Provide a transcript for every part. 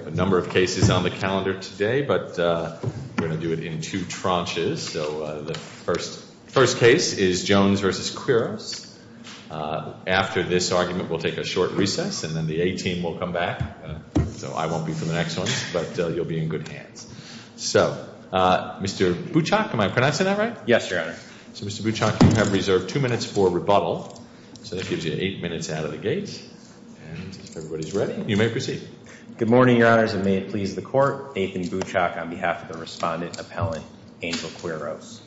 We have a number of cases on the calendar today, but we're going to do it in two tranches. So the first case is Jones v. Quiros. After this argument, we'll take a short recess, and then the A team will come back. So I won't be for the next one, but you'll be in good hands. So, Mr. Buchok, am I pronouncing that right? Yes, Your Honor. So, Mr. Buchok, you have reserved two minutes for rebuttal. So that gives you eight minutes out of the gate. And if everybody's ready, you may proceed. Good morning, Your Honors, and may it please the Court. Nathan Buchok on behalf of the respondent appellant, Angel Quiros.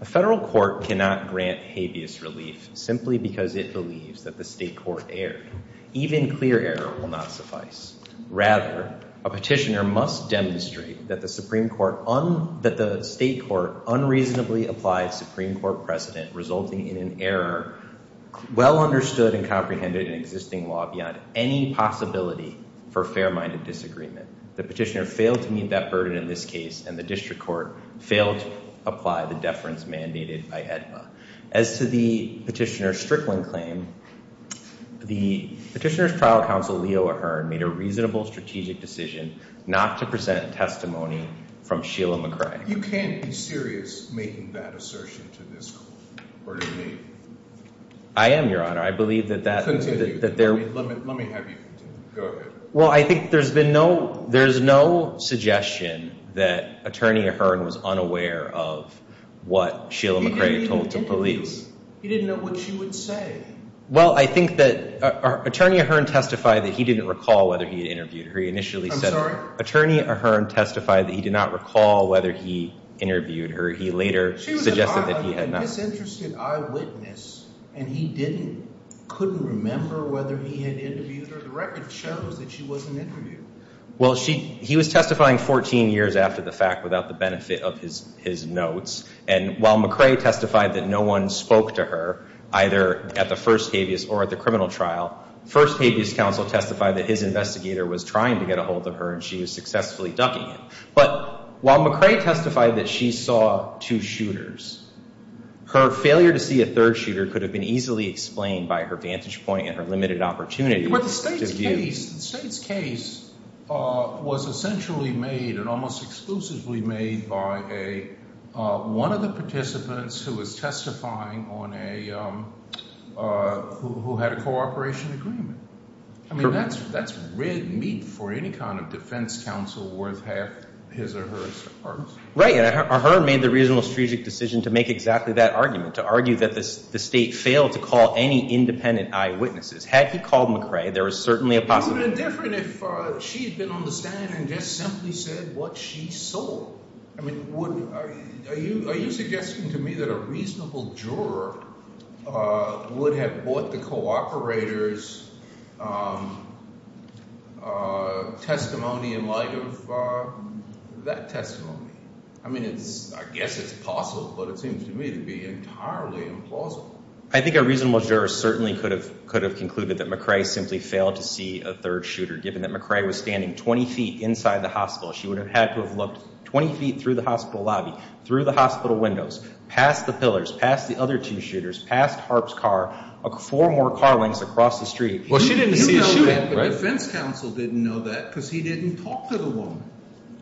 A federal court cannot grant habeas relief simply because it believes that the state court erred. Even clear error will not suffice. Rather, a petitioner must demonstrate that the state court unreasonably applied Supreme Court precedent resulting in an error well understood and comprehended in existing law beyond any possibility for fair-minded disagreement. The petitioner failed to meet that burden in this case, and the district court failed to apply the deference mandated by AEDPA. As to the petitioner's Strickland claim, the petitioner's trial counsel, Leo Ahern, made a reasonable strategic decision not to present testimony from Sheila McCrag. You can't be serious making that assertion to this court or to me. I am, Your Honor. I believe that that— Let me have you continue. Go ahead. Well, I think there's been no—there's no suggestion that Attorney Ahern was unaware of what Sheila McCrag told the police. He didn't know what she would say. Well, I think that Attorney Ahern testified that he didn't recall whether he had interviewed her. He initially said— I'm sorry? Attorney Ahern testified that he did not recall whether he interviewed her. He later suggested that he had not. She was an eye—a disinterested eyewitness, and he didn't—couldn't remember whether he had interviewed her. The record shows that she wasn't interviewed. Well, she—he was testifying 14 years after the fact without the benefit of his notes, and while McCrag testified that no one spoke to her, either at the first habeas or at the criminal trial, first habeas counsel testified that his investigator was trying to get a hold of her, and she was successfully ducking him. But while McCrag testified that she saw two shooters, her failure to see a third shooter could have been easily explained by her vantage point and her limited opportunity to view— I mean, that's red meat for any kind of defense counsel worth half his or hers parts. Right, and Ahern made the reasonable strategic decision to make exactly that argument, to argue that the State failed to call any independent eyewitnesses. Had he called McCrag, there was certainly a possibility— How would it have been different if she had been on the stand and just simply said what she saw? I mean, would—are you suggesting to me that a reasonable juror would have bought the cooperator's testimony in light of that testimony? I mean, it's—I guess it's possible, but it seems to me to be entirely implausible. I think a reasonable juror certainly could have concluded that McCrag simply failed to see a third shooter, given that McCrag was standing 20 feet inside the hospital. She would have had to have looked 20 feet through the hospital lobby, through the hospital windows, past the pillars, past the other two shooters, past Harp's car, four more car lengths across the street. Well, she didn't see a shooter. You know that, but defense counsel didn't know that because he didn't talk to the woman.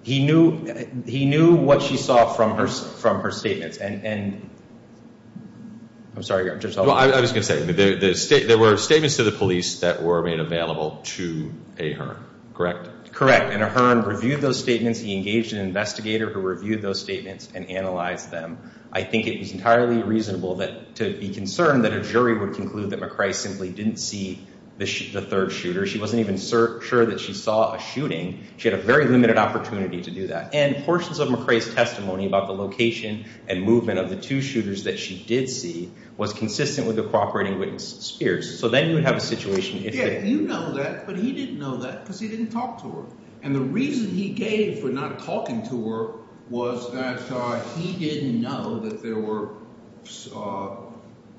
He knew—he knew what she saw from her statements, and—I'm sorry. Well, I was going to say, there were statements to the police that were made available to Ahern, correct? Correct, and Ahern reviewed those statements. He engaged an investigator who reviewed those statements and analyzed them. I think it was entirely reasonable that—to be concerned that a jury would conclude that McCrag simply didn't see the third shooter. She wasn't even sure that she saw a shooting. She had a very limited opportunity to do that, and portions of McCrag's testimony about the location and movement of the two shooters that she did see was consistent with the cooperating witness, Spears. So then you would have a situation if— You know that, but he didn't know that because he didn't talk to her, and the reason he gave for not talking to her was that he didn't know that there were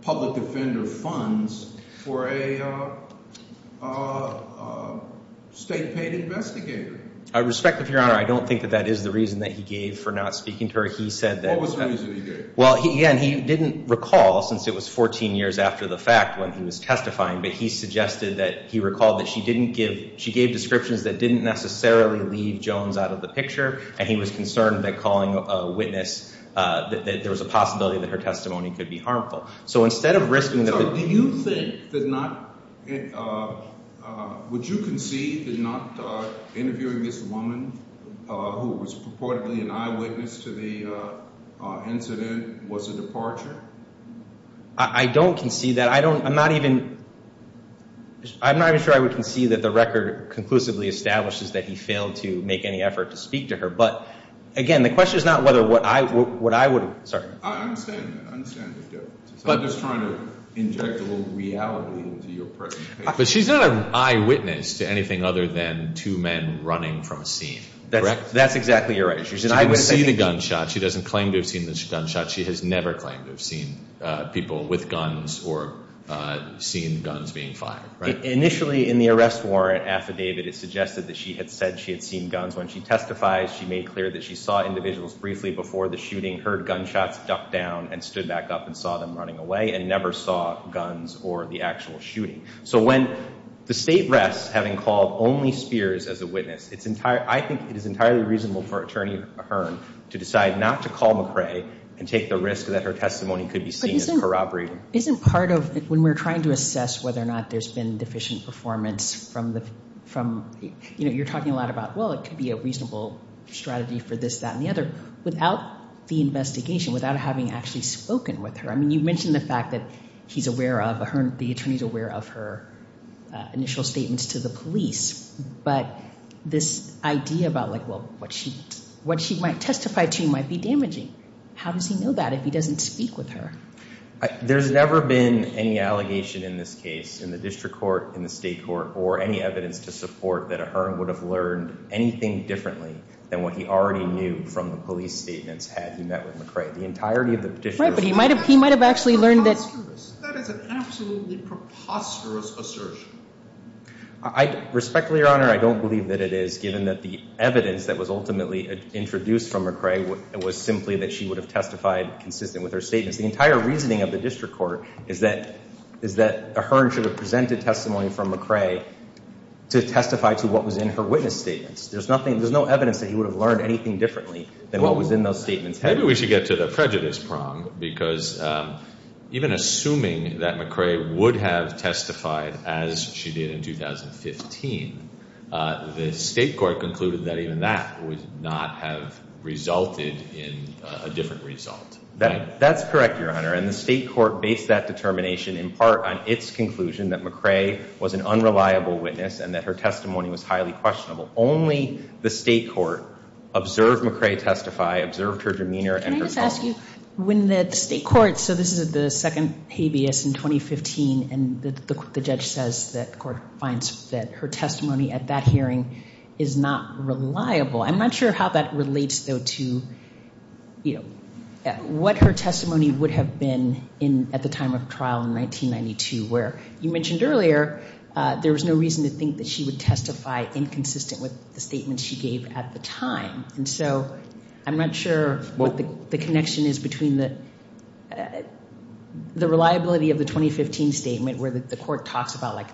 public offender funds for a state-paid investigator. I respect that, Your Honor. I don't think that that is the reason that he gave for not speaking to her. He said that— What was the reason he gave? Well, again, he didn't recall since it was 14 years after the fact when he was testifying, but he suggested that—he recalled that she didn't give—she gave descriptions that didn't necessarily leave Jones out of the picture, and he was concerned that calling a witness—that there was a possibility that her testimony could be harmful. So instead of risking— So do you think that not—would you concede that not interviewing this woman, who was purportedly an eyewitness to the incident, was a departure? I don't concede that. I don't—I'm not even—I'm not even sure I would concede that the record conclusively establishes that he failed to make any effort to speak to her, but, again, the question is not whether what I would—sorry. I understand the difference. I'm just trying to inject a little reality into your presentation. But she's not an eyewitness to anything other than two men running from a scene, correct? That's exactly right. She's an eyewitness. She can see the gunshot. She doesn't claim to have seen the gunshot. She has never claimed to have seen people with guns or seen guns being fired, right? Initially, in the arrest warrant affidavit, it suggested that she had said she had seen guns. When she testifies, she made clear that she saw individuals briefly before the shooting, heard gunshots duck down, and stood back up and saw them running away and never saw guns or the actual shooting. So when the State rests, having called only Spears as a witness, I think it is entirely reasonable for Attorney Ahearn to decide not to call McRae and take the risk that her testimony could be seen as corroborating. Isn't part of when we're trying to assess whether or not there's been deficient performance from— you're talking a lot about, well, it could be a reasonable strategy for this, that, and the other, without the investigation, without having actually spoken with her. I mean, you mentioned the fact that he's aware of, Ahearn, the attorney's aware of her initial statements to the police. But this idea about, like, well, what she might testify to might be damaging. How does he know that if he doesn't speak with her? There's never been any allegation in this case in the district court, in the state court, or any evidence to support that Ahearn would have learned anything differently than what he already knew from the police statements had he met with McRae. The entirety of the petition— Right, but he might have actually learned that— That is an absolutely preposterous assertion. Respectfully, Your Honor, I don't believe that it is, given that the evidence that was ultimately introduced from McRae was simply that she would have testified consistent with her statements. The entire reasoning of the district court is that Ahearn should have presented testimony from McRae to testify to what was in her witness statements. There's no evidence that he would have learned anything differently than what was in those statements. Maybe we should get to the prejudice prong, because even assuming that McRae would have testified as she did in 2015, the state court concluded that even that would not have resulted in a different result. That's correct, Your Honor, and the state court based that determination in part on its conclusion that McRae was an unreliable witness and that her testimony was highly questionable. Only the state court observed McRae testify, observed her demeanor— Let me ask you, when the state court—so this is the second habeas in 2015, and the judge says that the court finds that her testimony at that hearing is not reliable. I'm not sure how that relates, though, to what her testimony would have been at the time of trial in 1992, where you mentioned earlier there was no reason to think that she would testify inconsistent with the statements she gave at the time. And so I'm not sure what the connection is between the reliability of the 2015 statement, where the court talks about, like,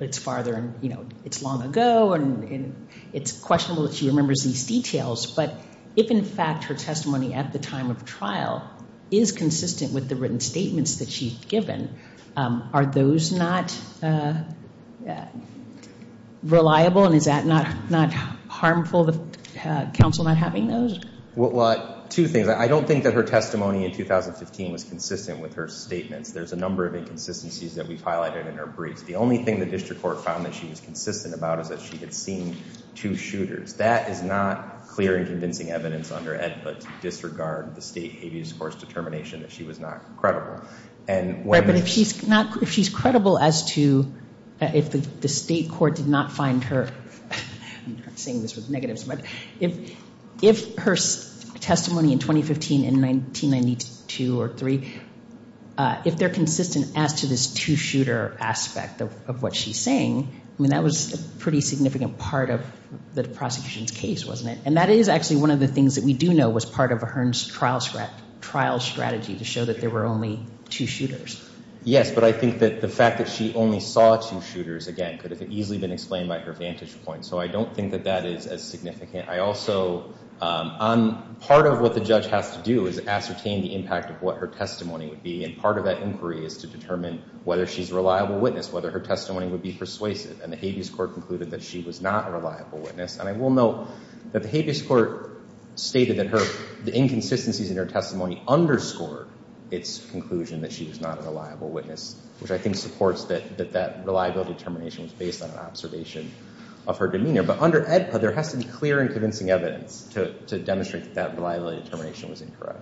it's farther and, you know, it's long ago, and it's questionable that she remembers these details, but if, in fact, her testimony at the time of trial is consistent with the written statements that she's given, are those not reliable, and is that not harmful, the counsel not having those? Well, two things. I don't think that her testimony in 2015 was consistent with her statements. There's a number of inconsistencies that we've highlighted in her briefs. The only thing the district court found that she was consistent about is that she had seen two shooters. That is not clear and convincing evidence under Ed, but to disregard the state habeas course determination that she was not credible. Right, but if she's not, if she's credible as to, if the state court did not find her, I'm not saying this with negatives, but if her testimony in 2015 in 1992 or three, if they're consistent as to this two-shooter aspect of what she's saying, I mean, that was a pretty significant part of the prosecution's case, wasn't it? And that is actually one of the things that we do know was part of Ahern's trial strategy to show that there were only two shooters. Yes, but I think that the fact that she only saw two shooters, again, could have easily been explained by her vantage point, so I don't think that that is as significant. I also, part of what the judge has to do is ascertain the impact of what her testimony would be, and part of that inquiry is to determine whether she's a reliable witness, whether her testimony would be persuasive, and the habeas court concluded that she was not a reliable witness. And I will note that the habeas court stated that the inconsistencies in her testimony underscored its conclusion that she was not a reliable witness, which I think supports that that reliability determination was based on an observation of her demeanor. But under AEDPA, there has to be clear and convincing evidence to demonstrate that that reliability determination was incorrect.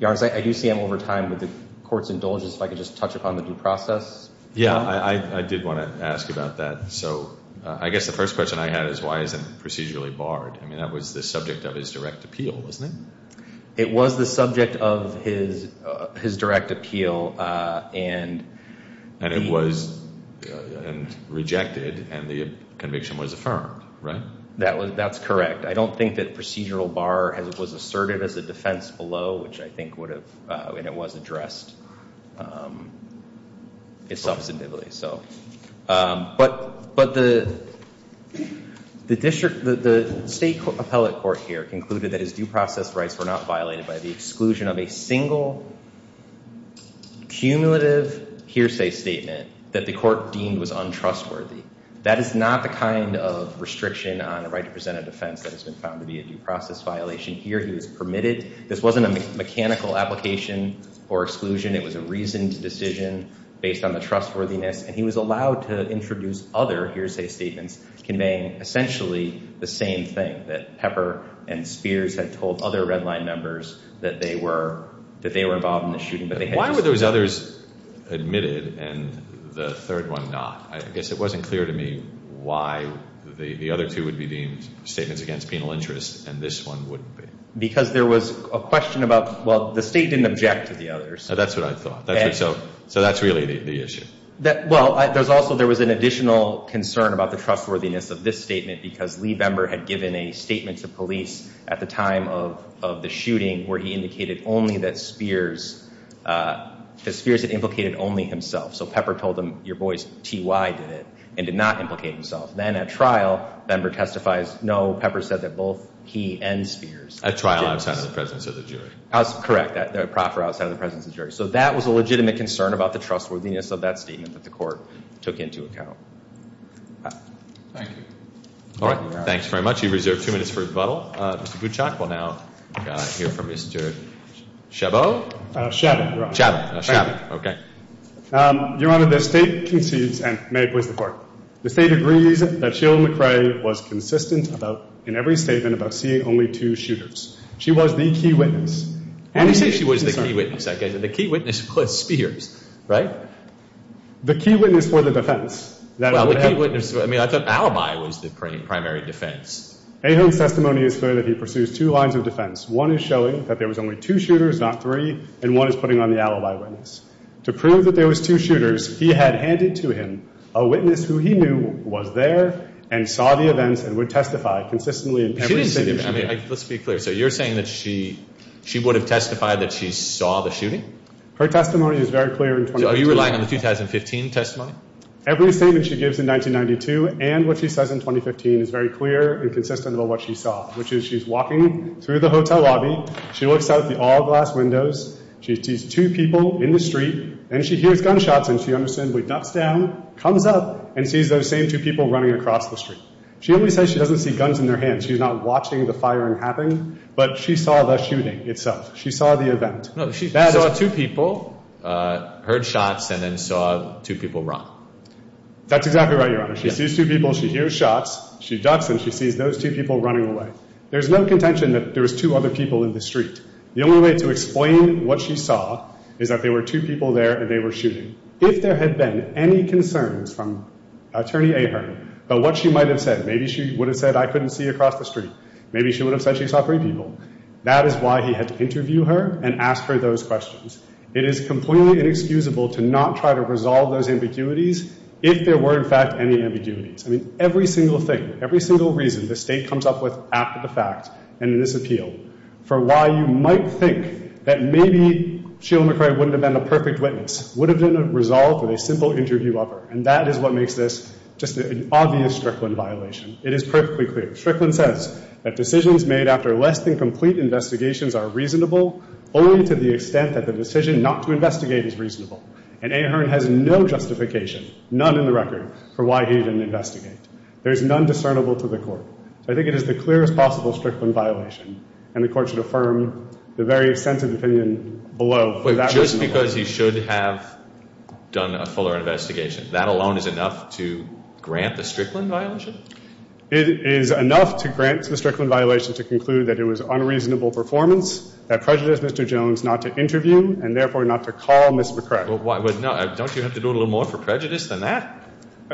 Your Honor, I do see that over time the courts indulge us if I could just touch upon the due process. Yeah, I did want to ask about that. So I guess the first question I had is why isn't it procedurally barred? I mean, that was the subject of his direct appeal, wasn't it? It was the subject of his direct appeal, and he- And it was rejected, and the conviction was affirmed, right? That's correct. I don't think that procedural bar was asserted as a defense below, which I think would have, and it was addressed substantively. But the state appellate court here concluded that his due process rights were not violated by the exclusion of a single cumulative hearsay statement that the court deemed was untrustworthy. That is not the kind of restriction on a right to present a defense that has been found to be a due process violation. Here, he was permitted. This wasn't a mechanical application or exclusion. It was a reasoned decision based on the trustworthiness, and he was allowed to introduce other hearsay statements conveying essentially the same thing, that Pepper and Spears had told other Red Line members that they were involved in the shooting, but they had just- Why were those others admitted and the third one not? I guess it wasn't clear to me why the other two would be deemed statements against penal interest and this one wouldn't be. Because there was a question about, well, the state didn't object to the others. That's what I thought. So that's really the issue. Well, there was also an additional concern about the trustworthiness of this statement because Lee Bember had given a statement to police at the time of the shooting where he indicated only that Spears had implicated only himself. So Pepper told him, your boys T.Y. did it and did not implicate himself. Then at trial, Bember testifies, no, Pepper said that both he and Spears did this. At trial outside of the presence of the jury. Correct, the proffer outside of the presence of the jury. So that was a legitimate concern about the trustworthiness of that statement that the court took into account. Thank you. All right. Thanks very much. You've reserved two minutes for rebuttal. Mr. Kuchok will now hear from Mr. Chabot. Chabot. Chabot. Chabot, okay. Your Honor, the state concedes, and may it please the Court, the state agrees that Sheila McRae was consistent in every statement about seeing only two shooters. She was the key witness. I didn't say she was the key witness. The key witness was Spears, right? The key witness for the defense. Well, the key witness, I mean, I thought alibi was the primary defense. Ahon's testimony is clear that he pursues two lines of defense. One is showing that there was only two shooters, not three, and one is putting on the alibi witness. To prove that there was two shooters, he had handed to him a witness who he knew was there and saw the events and would testify consistently in every situation. Let's be clear. So you're saying that she would have testified that she saw the shooting? Her testimony is very clear in 2015. So are you relying on the 2015 testimony? Every statement she gives in 1992 and what she says in 2015 is very clear and consistent about what she saw, which is she's walking through the hotel lobby. She looks out the all-glass windows. She sees two people in the street, and she hears gunshots, and she understandably ducks down, comes up, and sees those same two people running across the street. She only says she doesn't see guns in their hands. She's not watching the firing happen, but she saw the shooting itself. She saw the event. She saw two people, heard shots, and then saw two people run. That's exactly right, Your Honor. She sees two people. She hears shots. She ducks, and she sees those two people running away. There's no contention that there was two other people in the street. The only way to explain what she saw is that there were two people there, and they were shooting. If there had been any concerns from Attorney Ahon about what she might have said, maybe she would have said, I couldn't see across the street. Maybe she would have said she saw three people. That is why he had to interview her and ask her those questions. It is completely inexcusable to not try to resolve those ambiguities if there were, in fact, any ambiguities. I mean, every single thing, every single reason the State comes up with after the fact and in this appeal for why you might think that maybe Sheila McRae wouldn't have been a perfect witness would have been resolved with a simple interview of her, and that is what makes this just an obvious Strickland violation. It is perfectly clear. Strickland says that decisions made after less than complete investigations are reasonable only to the extent that the decision not to investigate is reasonable, and Ahern has no justification, none in the record, for why he didn't investigate. There is none discernible to the Court. So I think it is the clearest possible Strickland violation, and the Court should affirm the very extensive opinion below for that reason alone. Because he should have done a fuller investigation. That alone is enough to grant the Strickland violation? It is enough to grant the Strickland violation to conclude that it was unreasonable performance that prejudiced Mr. Jones not to interview and, therefore, not to call Ms. McRae. But don't you have to do a little more for prejudice than that?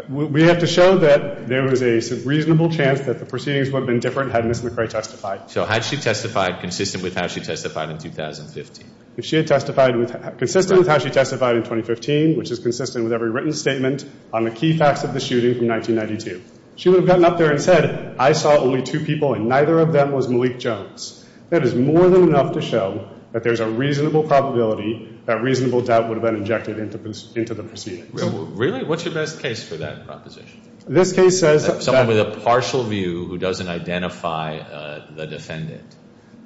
We have to show that there was a reasonable chance that the proceedings would have been different had Ms. McRae testified. So had she testified consistent with how she testified in 2015? If she had testified consistent with how she testified in 2015, which is consistent with every written statement on the key facts of the shooting from 1992, she would have gotten up there and said, I saw only two people and neither of them was Malik Jones. That is more than enough to show that there is a reasonable probability that reasonable doubt would have been injected into the proceedings. Really? What's your best case for that proposition? This case says that someone with a partial view who doesn't identify the defendant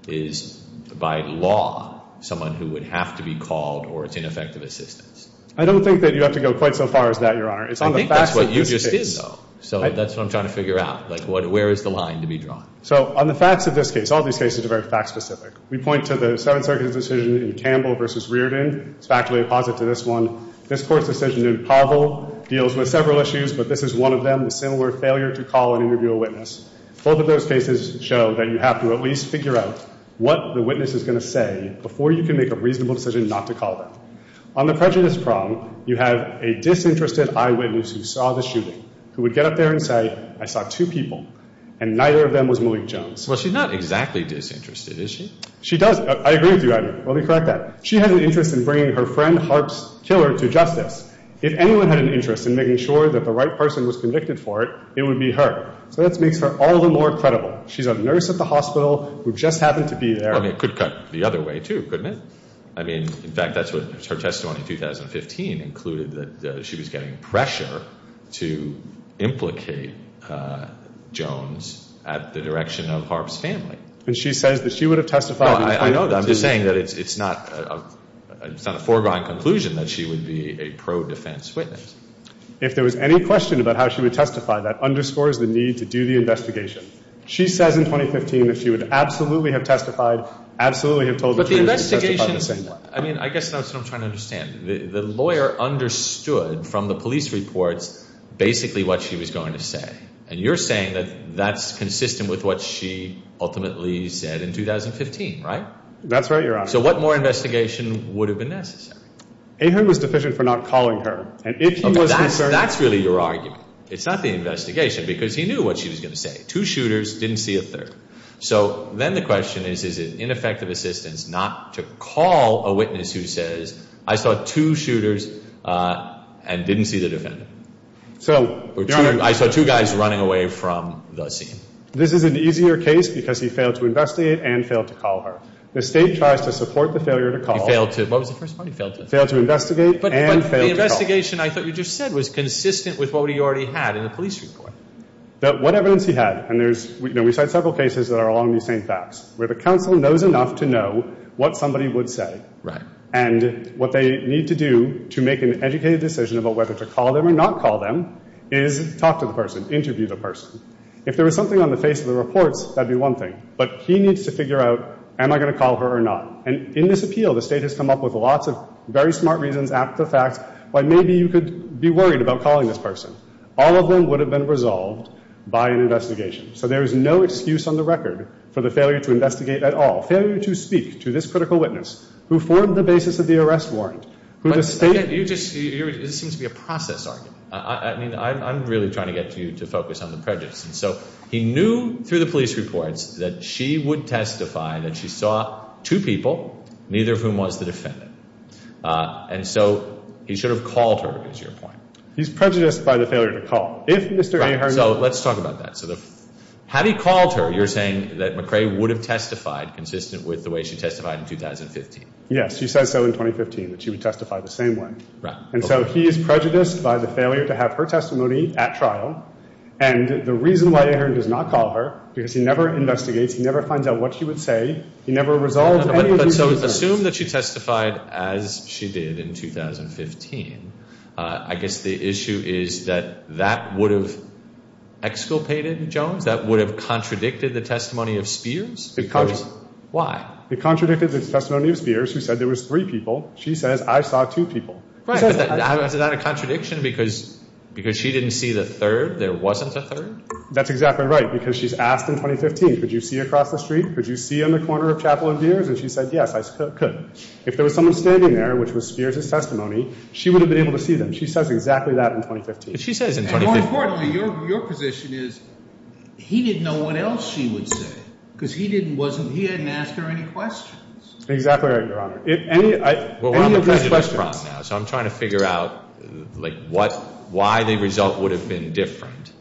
is, by law, someone who would have to be called or it's ineffective assistance. I don't think that you have to go quite so far as that, Your Honor. I think that's what you just did, though. So that's what I'm trying to figure out. Like, where is the line to be drawn? So on the facts of this case, all these cases are very fact-specific. We point to the Seventh Circuit's decision in Campbell v. Reardon. It's factually opposite to this one. This Court's decision in Pavel deals with several issues, but this is one of them, the similar failure to call and interview a witness. Both of those cases show that you have to at least figure out what the witness is going to say before you can make a reasonable decision not to call them. On the prejudice prong, you have a disinterested eyewitness who saw the shooting who would get up there and say, I saw two people, and neither of them was Malik Jones. Well, she's not exactly disinterested, is she? She does. I agree with you, Your Honor. Let me correct that. She has an interest in bringing her friend Harp's killer to justice. If anyone had an interest in making sure that the right person was convicted for it, it would be her. So that makes her all the more credible. She's a nurse at the hospital who just happened to be there. I mean, it could cut the other way, too, couldn't it? I mean, in fact, that's what her testimony in 2015 included, that she was getting pressure to implicate Jones at the direction of Harp's family. And she says that she would have testified. No, I know that. I'm just saying that it's not a foregone conclusion that she would be a pro-defense witness. If there was any question about how she would testify, that underscores the need to do the investigation. She says in 2015 that she would absolutely have testified, absolutely have told the jury she would testify the same way. But the investigation, I mean, I guess that's what I'm trying to understand. The lawyer understood from the police reports basically what she was going to say. And you're saying that that's consistent with what she ultimately said in 2015, right? That's right, Your Honor. So what more investigation would have been necessary? Ahon was deficient for not calling her. That's really your argument. It's not the investigation because he knew what she was going to say. Two shooters, didn't see a third. So then the question is, is it ineffective assistance not to call a witness who says, I saw two shooters and didn't see the defendant? I saw two guys running away from the scene. This is an easier case because he failed to investigate and failed to call her. The State tries to support the failure to call. What was the first part he failed to? He failed to investigate and failed to call. But the investigation I thought you just said was consistent with what he already had in the police report. What evidence he had, and we cite several cases that are along these same paths, where the counsel knows enough to know what somebody would say. Right. And what they need to do to make an educated decision about whether to call them or not call them is talk to the person, interview the person. If there was something on the face of the reports, that would be one thing. But he needs to figure out, am I going to call her or not? And in this appeal, the State has come up with lots of very smart reasons, apt to facts, why maybe you could be worried about calling this person. All of them would have been resolved by an investigation. So there is no excuse on the record for the failure to investigate at all, failure to speak to this critical witness who formed the basis of the arrest warrant, who the State You just, this seems to be a process argument. I mean, I'm really trying to get you to focus on the prejudice. And so he knew through the police reports that she would testify that she saw two people, neither of whom was the defendant. And so he should have called her, is your point. He's prejudiced by the failure to call. If Mr. Ahern Right. So let's talk about that. Had he called her, you're saying that McRae would have testified consistent with the way she testified in 2015. Yes. She said so in 2015, that she would testify the same way. Right. And so he is prejudiced by the failure to have her testimony at trial. And the reason why Ahern does not call her because he never investigates. He never finds out what she would say. He never resolves any of these. But so assume that she testified as she did in 2015. I guess the issue is that that would have exculpated Jones. That would have contradicted the testimony of Spears. It contradicted. Why? It contradicted the testimony of Spears, who said there was three people. She says, I saw two people. Is that a contradiction because she didn't see the third? There wasn't a third? That's exactly right. Because she's asked in 2015, could you see across the street? Could you see in the corner of Chapel and Dears? And she said, yes, I could. If there was someone standing there, which was Spears' testimony, she would have been able to see them. She says exactly that in 2015. And more importantly, your position is he didn't know what else she would say because he didn't ask her any questions. Exactly right, Your Honor. Well, we're on the prejudice problem now, so I'm trying to figure out, like, why the result would have been different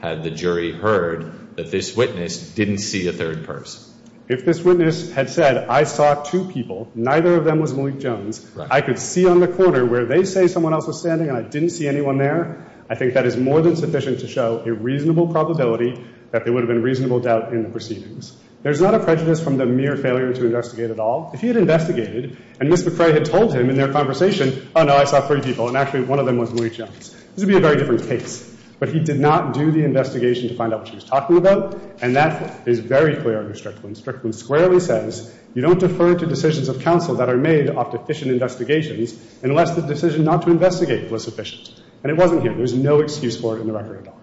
had the jury heard that this witness didn't see a third person. If this witness had said, I saw two people, neither of them was Malik Jones, I could see on the corner where they say someone else was standing and I didn't see anyone there, I think that is more than sufficient to show a reasonable probability that there would have been reasonable doubt in the proceedings. There's not a prejudice from the mere failure to investigate at all. If he had investigated and Ms. McCrae had told him in their conversation, oh, no, I saw three people, and actually one of them was Malik Jones, this would be a very different case. But he did not do the investigation to find out what she was talking about, and that is very clear under Strickland. Strickland squarely says you don't defer to decisions of counsel that are made off deficient investigations unless the decision not to investigate was sufficient. And it wasn't here. There's no excuse for it in the record at all.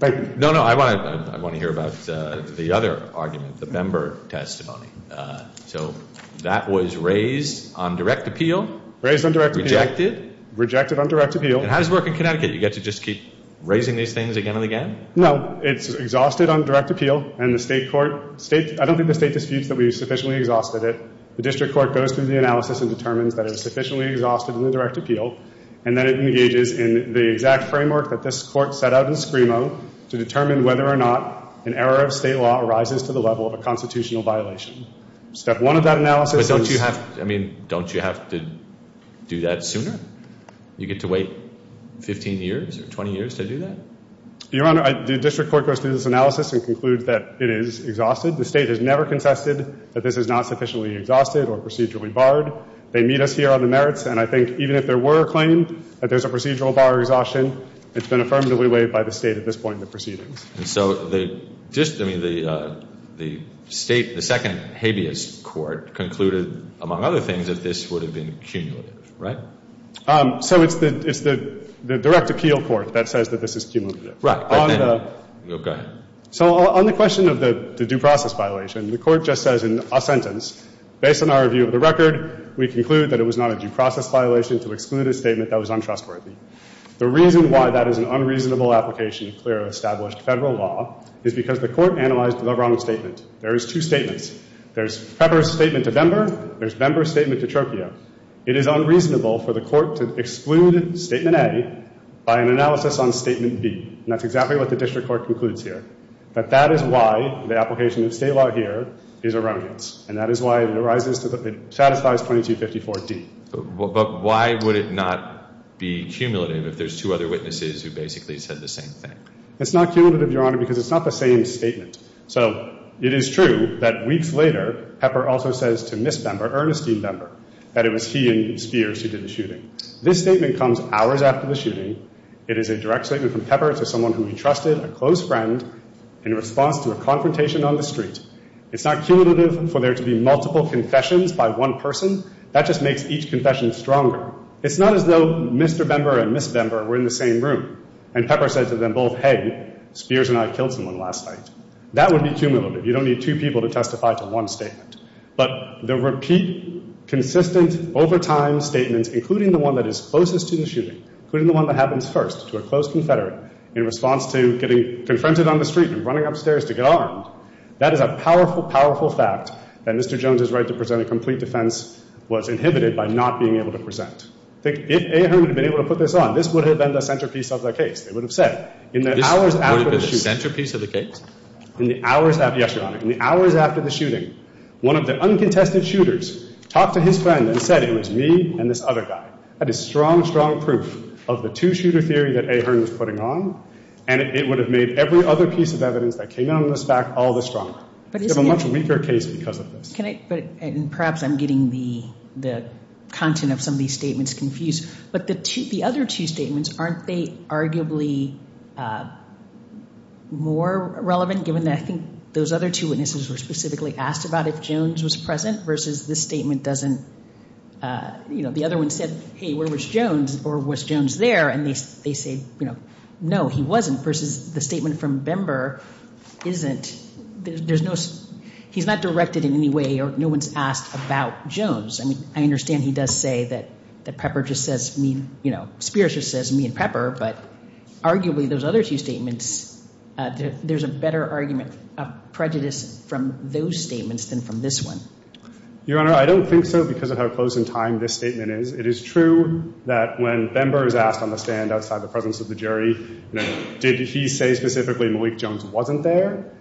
Thank you. No, no, I want to hear about the other argument, the Bember testimony. So that was raised on direct appeal. Raised on direct appeal. Rejected. Rejected on direct appeal. And how does it work in Connecticut? You get to just keep raising these things again and again? No, it's exhausted on direct appeal, and the state court, I don't think the state disputes that we sufficiently exhausted it. The district court goes through the analysis and determines that it was sufficiently exhausted in the direct appeal, and then it engages in the exact framework that this court set out in Scrimo to determine whether or not an error of state law arises to the level of a constitutional violation. Step one of that analysis is — But don't you have — I mean, don't you have to do that sooner? You get to wait 15 years or 20 years to do that? Your Honor, the district court goes through this analysis and concludes that it is exhausted. The state has never contested that this is not sufficiently exhausted or procedurally barred. They meet us here on the merits, and I think even if there were a claim that there's a procedural bar exhaustion, it's been affirmatively waived by the State at this point in the proceedings. And so the — just — I mean, the State — the second habeas court concluded, among other things, that this would have been cumulative, right? So it's the direct appeal court that says that this is cumulative. Right. But then — Go ahead. So on the question of the due process violation, the Court just says in a sentence, based on our view of the record, we conclude that it was not a due process violation to exclude a statement that was untrustworthy. The reason why that is an unreasonable application of clearly established Federal law is because the Court analyzed the wrong statement. There is two statements. There's Pepper's statement to Bember. There's Bember's statement to Trocchio. It is unreasonable for the Court to exclude Statement A by an analysis on Statement B. And that's exactly what the district court concludes here. But that is why the application of State law here is a remnant. And that is why it arises to the — it satisfies 2254D. But why would it not be cumulative if there's two other witnesses who basically said the same thing? It's not cumulative, Your Honor, because it's not the same statement. So it is true that weeks later, Pepper also says to Ms. Bember, Ernestine Bember, that it was he and Spears who did the shooting. This statement comes hours after the shooting. It is a direct statement from Pepper. It's from someone who he trusted, a close friend, in response to a confrontation on the street. It's not cumulative for there to be multiple confessions by one person. That just makes each confession stronger. It's not as though Mr. Bember and Ms. Bember were in the same room, and Pepper said to them both, hey, Spears and I killed someone last night. That would be cumulative. You don't need two people to testify to one statement. But the repeat, consistent, over time statements, including the one that is closest to the shooting, including the one that happens first to a close confederate, in response to getting confronted on the street and running upstairs to get armed, that is a powerful, powerful fact that Mr. Jones' right to present a complete defense was inhibited by not being able to present. If Ahern had been able to put this on, this would have been the centerpiece of the case. It would have said, in the hours after the shooting. This would have been the centerpiece of the case? Yes, Your Honor. In the hours after the shooting, one of the uncontested shooters talked to his friend and said it was me and this other guy. That is strong, strong proof of the two-shooter theory that Ahern was putting on, and it would have made every other piece of evidence that came out of this fact all the stronger. We have a much weaker case because of this. Perhaps I'm getting the content of some of these statements confused. But the other two statements, aren't they arguably more relevant, given that I think those other two witnesses were specifically asked about if Jones was present versus this statement doesn't, you know, the other one said, hey, where was Jones, or was Jones there, and they say, you know, no, he wasn't, versus the statement from Bember isn't, there's no, he's not directed in any way or no one's asked about Jones. I mean, I understand he does say that Pepper just says me, you know, Spears just says me and Pepper, but arguably those other two statements, there's a better argument of prejudice from those statements than from this one. Your Honor, I don't think so because of how close in time this statement is. It is true that when Bember is asked on the stand outside the presence of the jury, you know, did he say specifically Malik Jones wasn't there,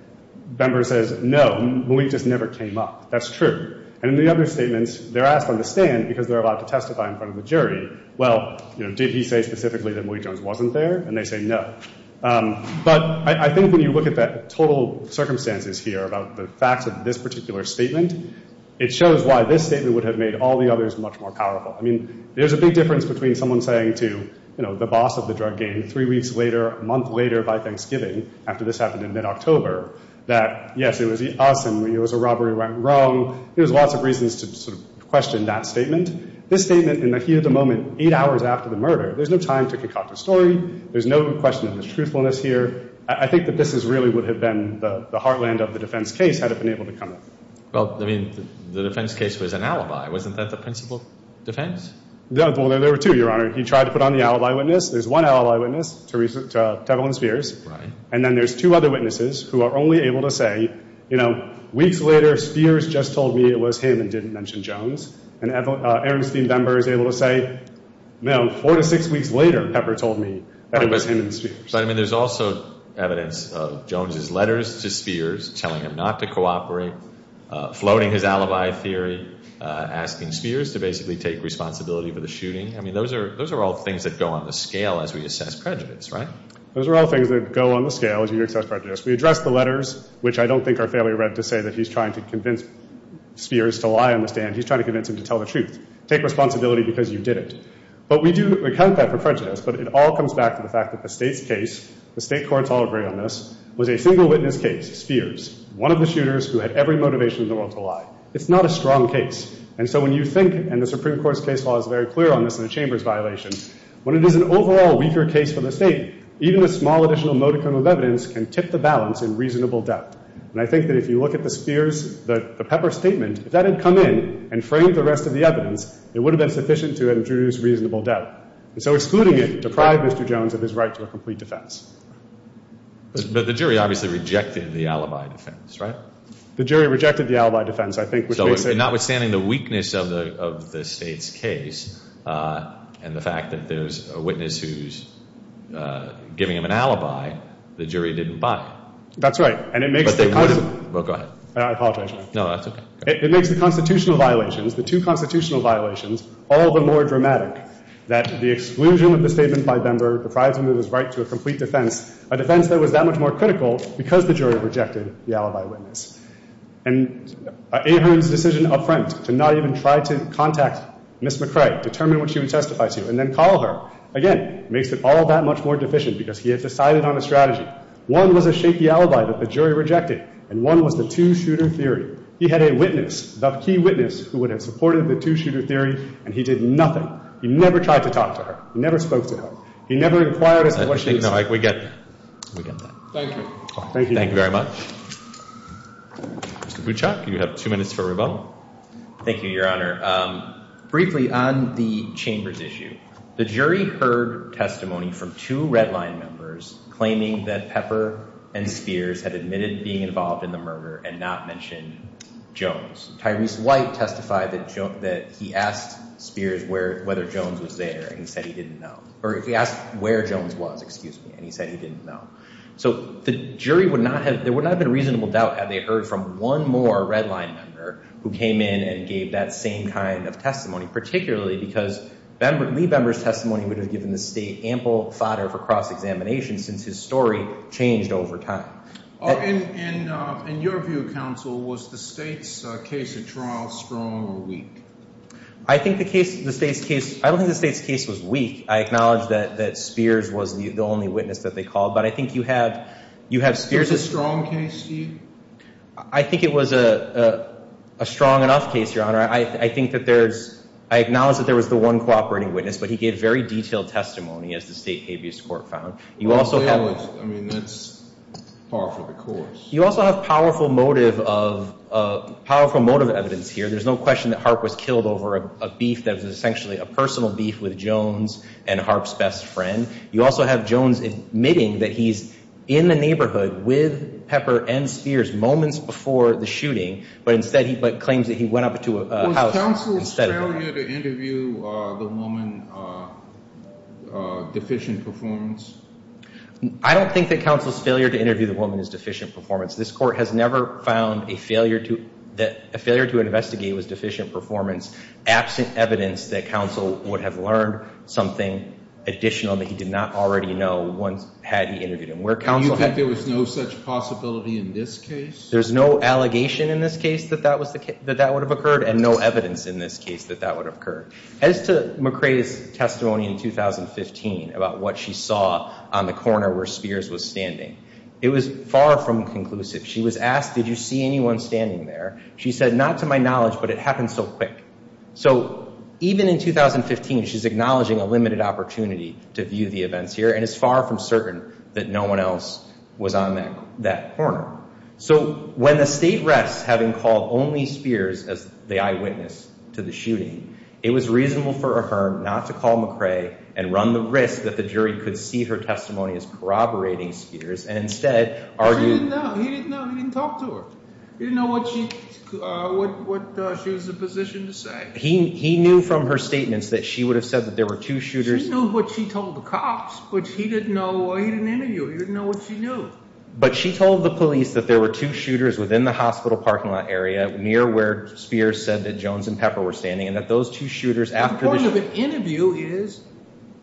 Bember says no, Malik just never came up. That's true. And in the other statements, they're asked on the stand because they're allowed to testify in front of the jury. Well, you know, did he say specifically that Malik Jones wasn't there, and they say no. But I think when you look at the total circumstances here about the facts of this particular statement, it shows why this statement would have made all the others much more powerful. I mean, there's a big difference between someone saying to, you know, the boss of the drug game, three weeks later, a month later by Thanksgiving, after this happened in mid-October, that yes, it was us and it was a robbery went wrong. There's lots of reasons to sort of question that statement. This statement in the heat of the moment, eight hours after the murder, there's no time to concoct a story. There's no question of the truthfulness here. I think that this really would have been the heartland of the defense case had it been able to come up. Well, I mean, the defense case was an alibi. Wasn't that the principal defense? Well, there were two, Your Honor. He tried to put on the alibi witness. There's one alibi witness, Tevlin Spears. Right. And then there's two other witnesses who are only able to say, you know, weeks later, Spears just told me it was him and didn't mention Jones. And Aaron Steenbemberg is able to say, you know, four to six weeks later, Pepper told me it was him and Spears. But, I mean, there's also evidence of Jones' letters to Spears telling him not to cooperate, floating his alibi theory, asking Spears to basically take responsibility for the shooting. I mean, those are all things that go on the scale as we assess prejudice, right? Those are all things that go on the scale as you assess prejudice. We address the letters, which I don't think our family read to say that he's trying to convince Spears to lie on the stand. He's trying to convince him to tell the truth. Take responsibility because you did it. But we do account that for prejudice, but it all comes back to the fact that the state's case, the state courts all agree on this, was a single witness case, Spears, one of the shooters who had every motivation in the world to lie. It's not a strong case. And so when you think, and the Supreme Court's case law is very clear on this and the Chamber's violation, when it is an overall weaker case for the state, even a small additional modicum of evidence can tip the balance in reasonable depth. And I think that if you look at the Spears, the Pepper statement, if that had come in and framed the rest of the evidence, it would have been sufficient to introduce reasonable depth. And so excluding it deprived Mr. Jones of his right to a complete defense. But the jury obviously rejected the alibi defense, right? The jury rejected the alibi defense. So notwithstanding the weakness of the state's case and the fact that there's a witness who's giving him an alibi, the jury didn't buy it. That's right. But they would have. Well, go ahead. I apologize, Your Honor. No, that's okay. It makes the constitutional violations, the two constitutional violations, all the more dramatic that the exclusion of the statement by Bember deprived him of his right to a complete defense, a defense that was that much more critical because the jury rejected the alibi witness. And Ahern's decision up front to not even try to contact Ms. McCrae, determine what she would testify to, and then call her, again, makes it all that much more deficient because he had decided on a strategy. One was to shake the alibi that the jury rejected, and one was the two-shooter theory. He had a witness, the key witness, who would have supported the two-shooter theory, and he did nothing. He never tried to talk to her. He never spoke to her. He never inquired as to what she was saying. We get that. Thank you. Thank you very much. Mr. Buchok, you have two minutes for rebuttal. Thank you, Your Honor. Briefly on the chamber's issue, the jury heard testimony from two redline members claiming that Pepper and Spears had admitted being involved in the murder and not mentioned Jones. Tyrese White testified that he asked Spears whether Jones was there, and he said he didn't know. Or he asked where Jones was, excuse me, and he said he didn't know. So the jury would not have been in reasonable doubt had they heard from one more redline member who came in and gave that same kind of testimony, particularly because Lee Bember's testimony would have given the State ample fodder for cross-examination since his story changed over time. In your view, Counsel, was the State's case at trial strong or weak? I don't think the State's case was weak. I acknowledge that Spears was the only witness that they called, but I think you have Spears. Was it a strong case to you? I think it was a strong enough case, Your Honor. I acknowledge that there was the one cooperating witness, but he gave very detailed testimony, as the State habeas court found. I mean, that's par for the course. You also have powerful motive evidence here. There's no question that Harp was killed over a beef that was essentially a personal beef with Jones and Harp's best friend. You also have Jones admitting that he's in the neighborhood with Pepper and Spears moments before the shooting, but claims that he went up to a house instead of the woman. Was Counsel's failure to interview the woman deficient performance? I don't think that Counsel's failure to interview the woman is deficient performance. This Court has never found a failure to investigate was deficient performance, absent evidence that Counsel would have learned something additional that he did not already know had he interviewed him. And you think there was no such possibility in this case? There's no allegation in this case that that would have occurred and no evidence in this case that that would have occurred. As to McCrae's testimony in 2015 about what she saw on the corner where Spears was standing, it was far from conclusive. She was asked, did you see anyone standing there? She said, not to my knowledge, but it happened so quick. So even in 2015, she's acknowledging a limited opportunity to view the events here and is far from certain that no one else was on that corner. So when the State rests having called only Spears as the eyewitness to the shooting, it was reasonable for her not to call McCrae and run the risk that the jury could see her testimony as corroborating Spears and instead argue— She didn't know. He didn't know. He didn't talk to her. He didn't know what she was in a position to say. He knew from her statements that she would have said that there were two shooters. She knew what she told the cops, but he didn't interview her. He didn't know what she knew. But she told the police that there were two shooters within the hospital parking lot area near where Spears said that Jones and Pepper were standing and that those two shooters after the— The point of an interview is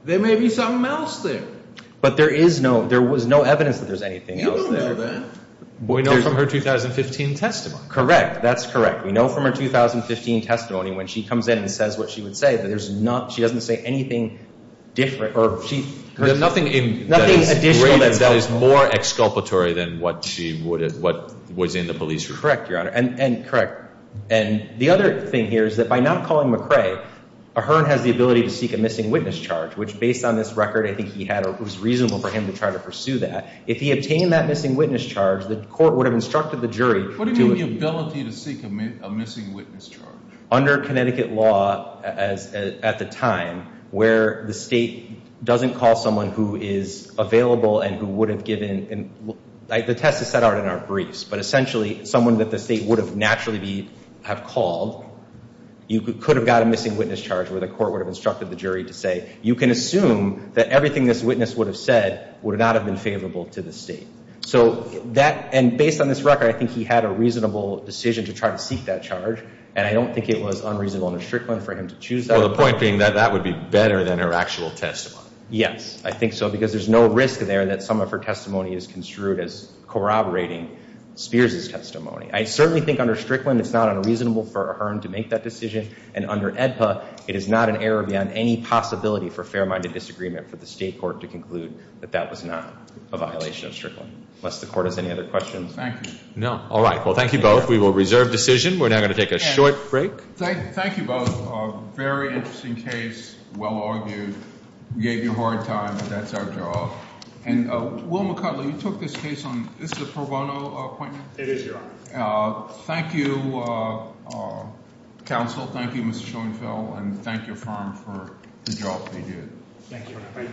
there may be something else there. But there is no—there was no evidence that there's anything else there. You don't know that. We know from her 2015 testimony. Correct. That's correct. We know from her 2015 testimony when she comes in and says what she would say, but there's not—she doesn't say anything different or she— There's nothing in— Nothing additional that's helpful. —that is more exculpatory than what she would have—what was in the police report. Correct, Your Honor, and correct. And the other thing here is that by not calling McCrae, Ahearn has the ability to seek a missing witness charge, which based on this record I think he had, it was reasonable for him to try to pursue that. If he obtained that missing witness charge, the court would have instructed the jury to— What do you mean the ability to seek a missing witness charge? Under Connecticut law at the time where the state doesn't call someone who is available and who would have given—the test is set out in our briefs, but essentially someone that the state would have naturally be—have called, you could have got a missing witness charge where the court would have instructed the jury to say, you can assume that everything this witness would have said would not have been favorable to the state. So that—and based on this record, I think he had a reasonable decision to try to seek that charge, and I don't think it was unreasonable under Strickland for him to choose that— Well, the point being that that would be better than her actual testimony. Yes, I think so because there's no risk there that some of her testimony is construed as corroborating Spears' testimony. I certainly think under Strickland it's not unreasonable for Ahearn to make that decision, and under AEDPA it is not an error beyond any possibility for fair-minded disagreement for the state court to conclude that that was not a violation of Strickland. Unless the court has any other questions. Thank you. No. All right, well, thank you both. We will reserve decision. We're now going to take a short break. Thank you both. Very interesting case. Well argued. Gave you a hard time, but that's our job. And Will McCudley, you took this case on—this is a pro bono appointment? It is, Your Honor. Thank you, counsel. Thank you, Mr. Schoenfeld, and thank your firm for the job they do. Thank you.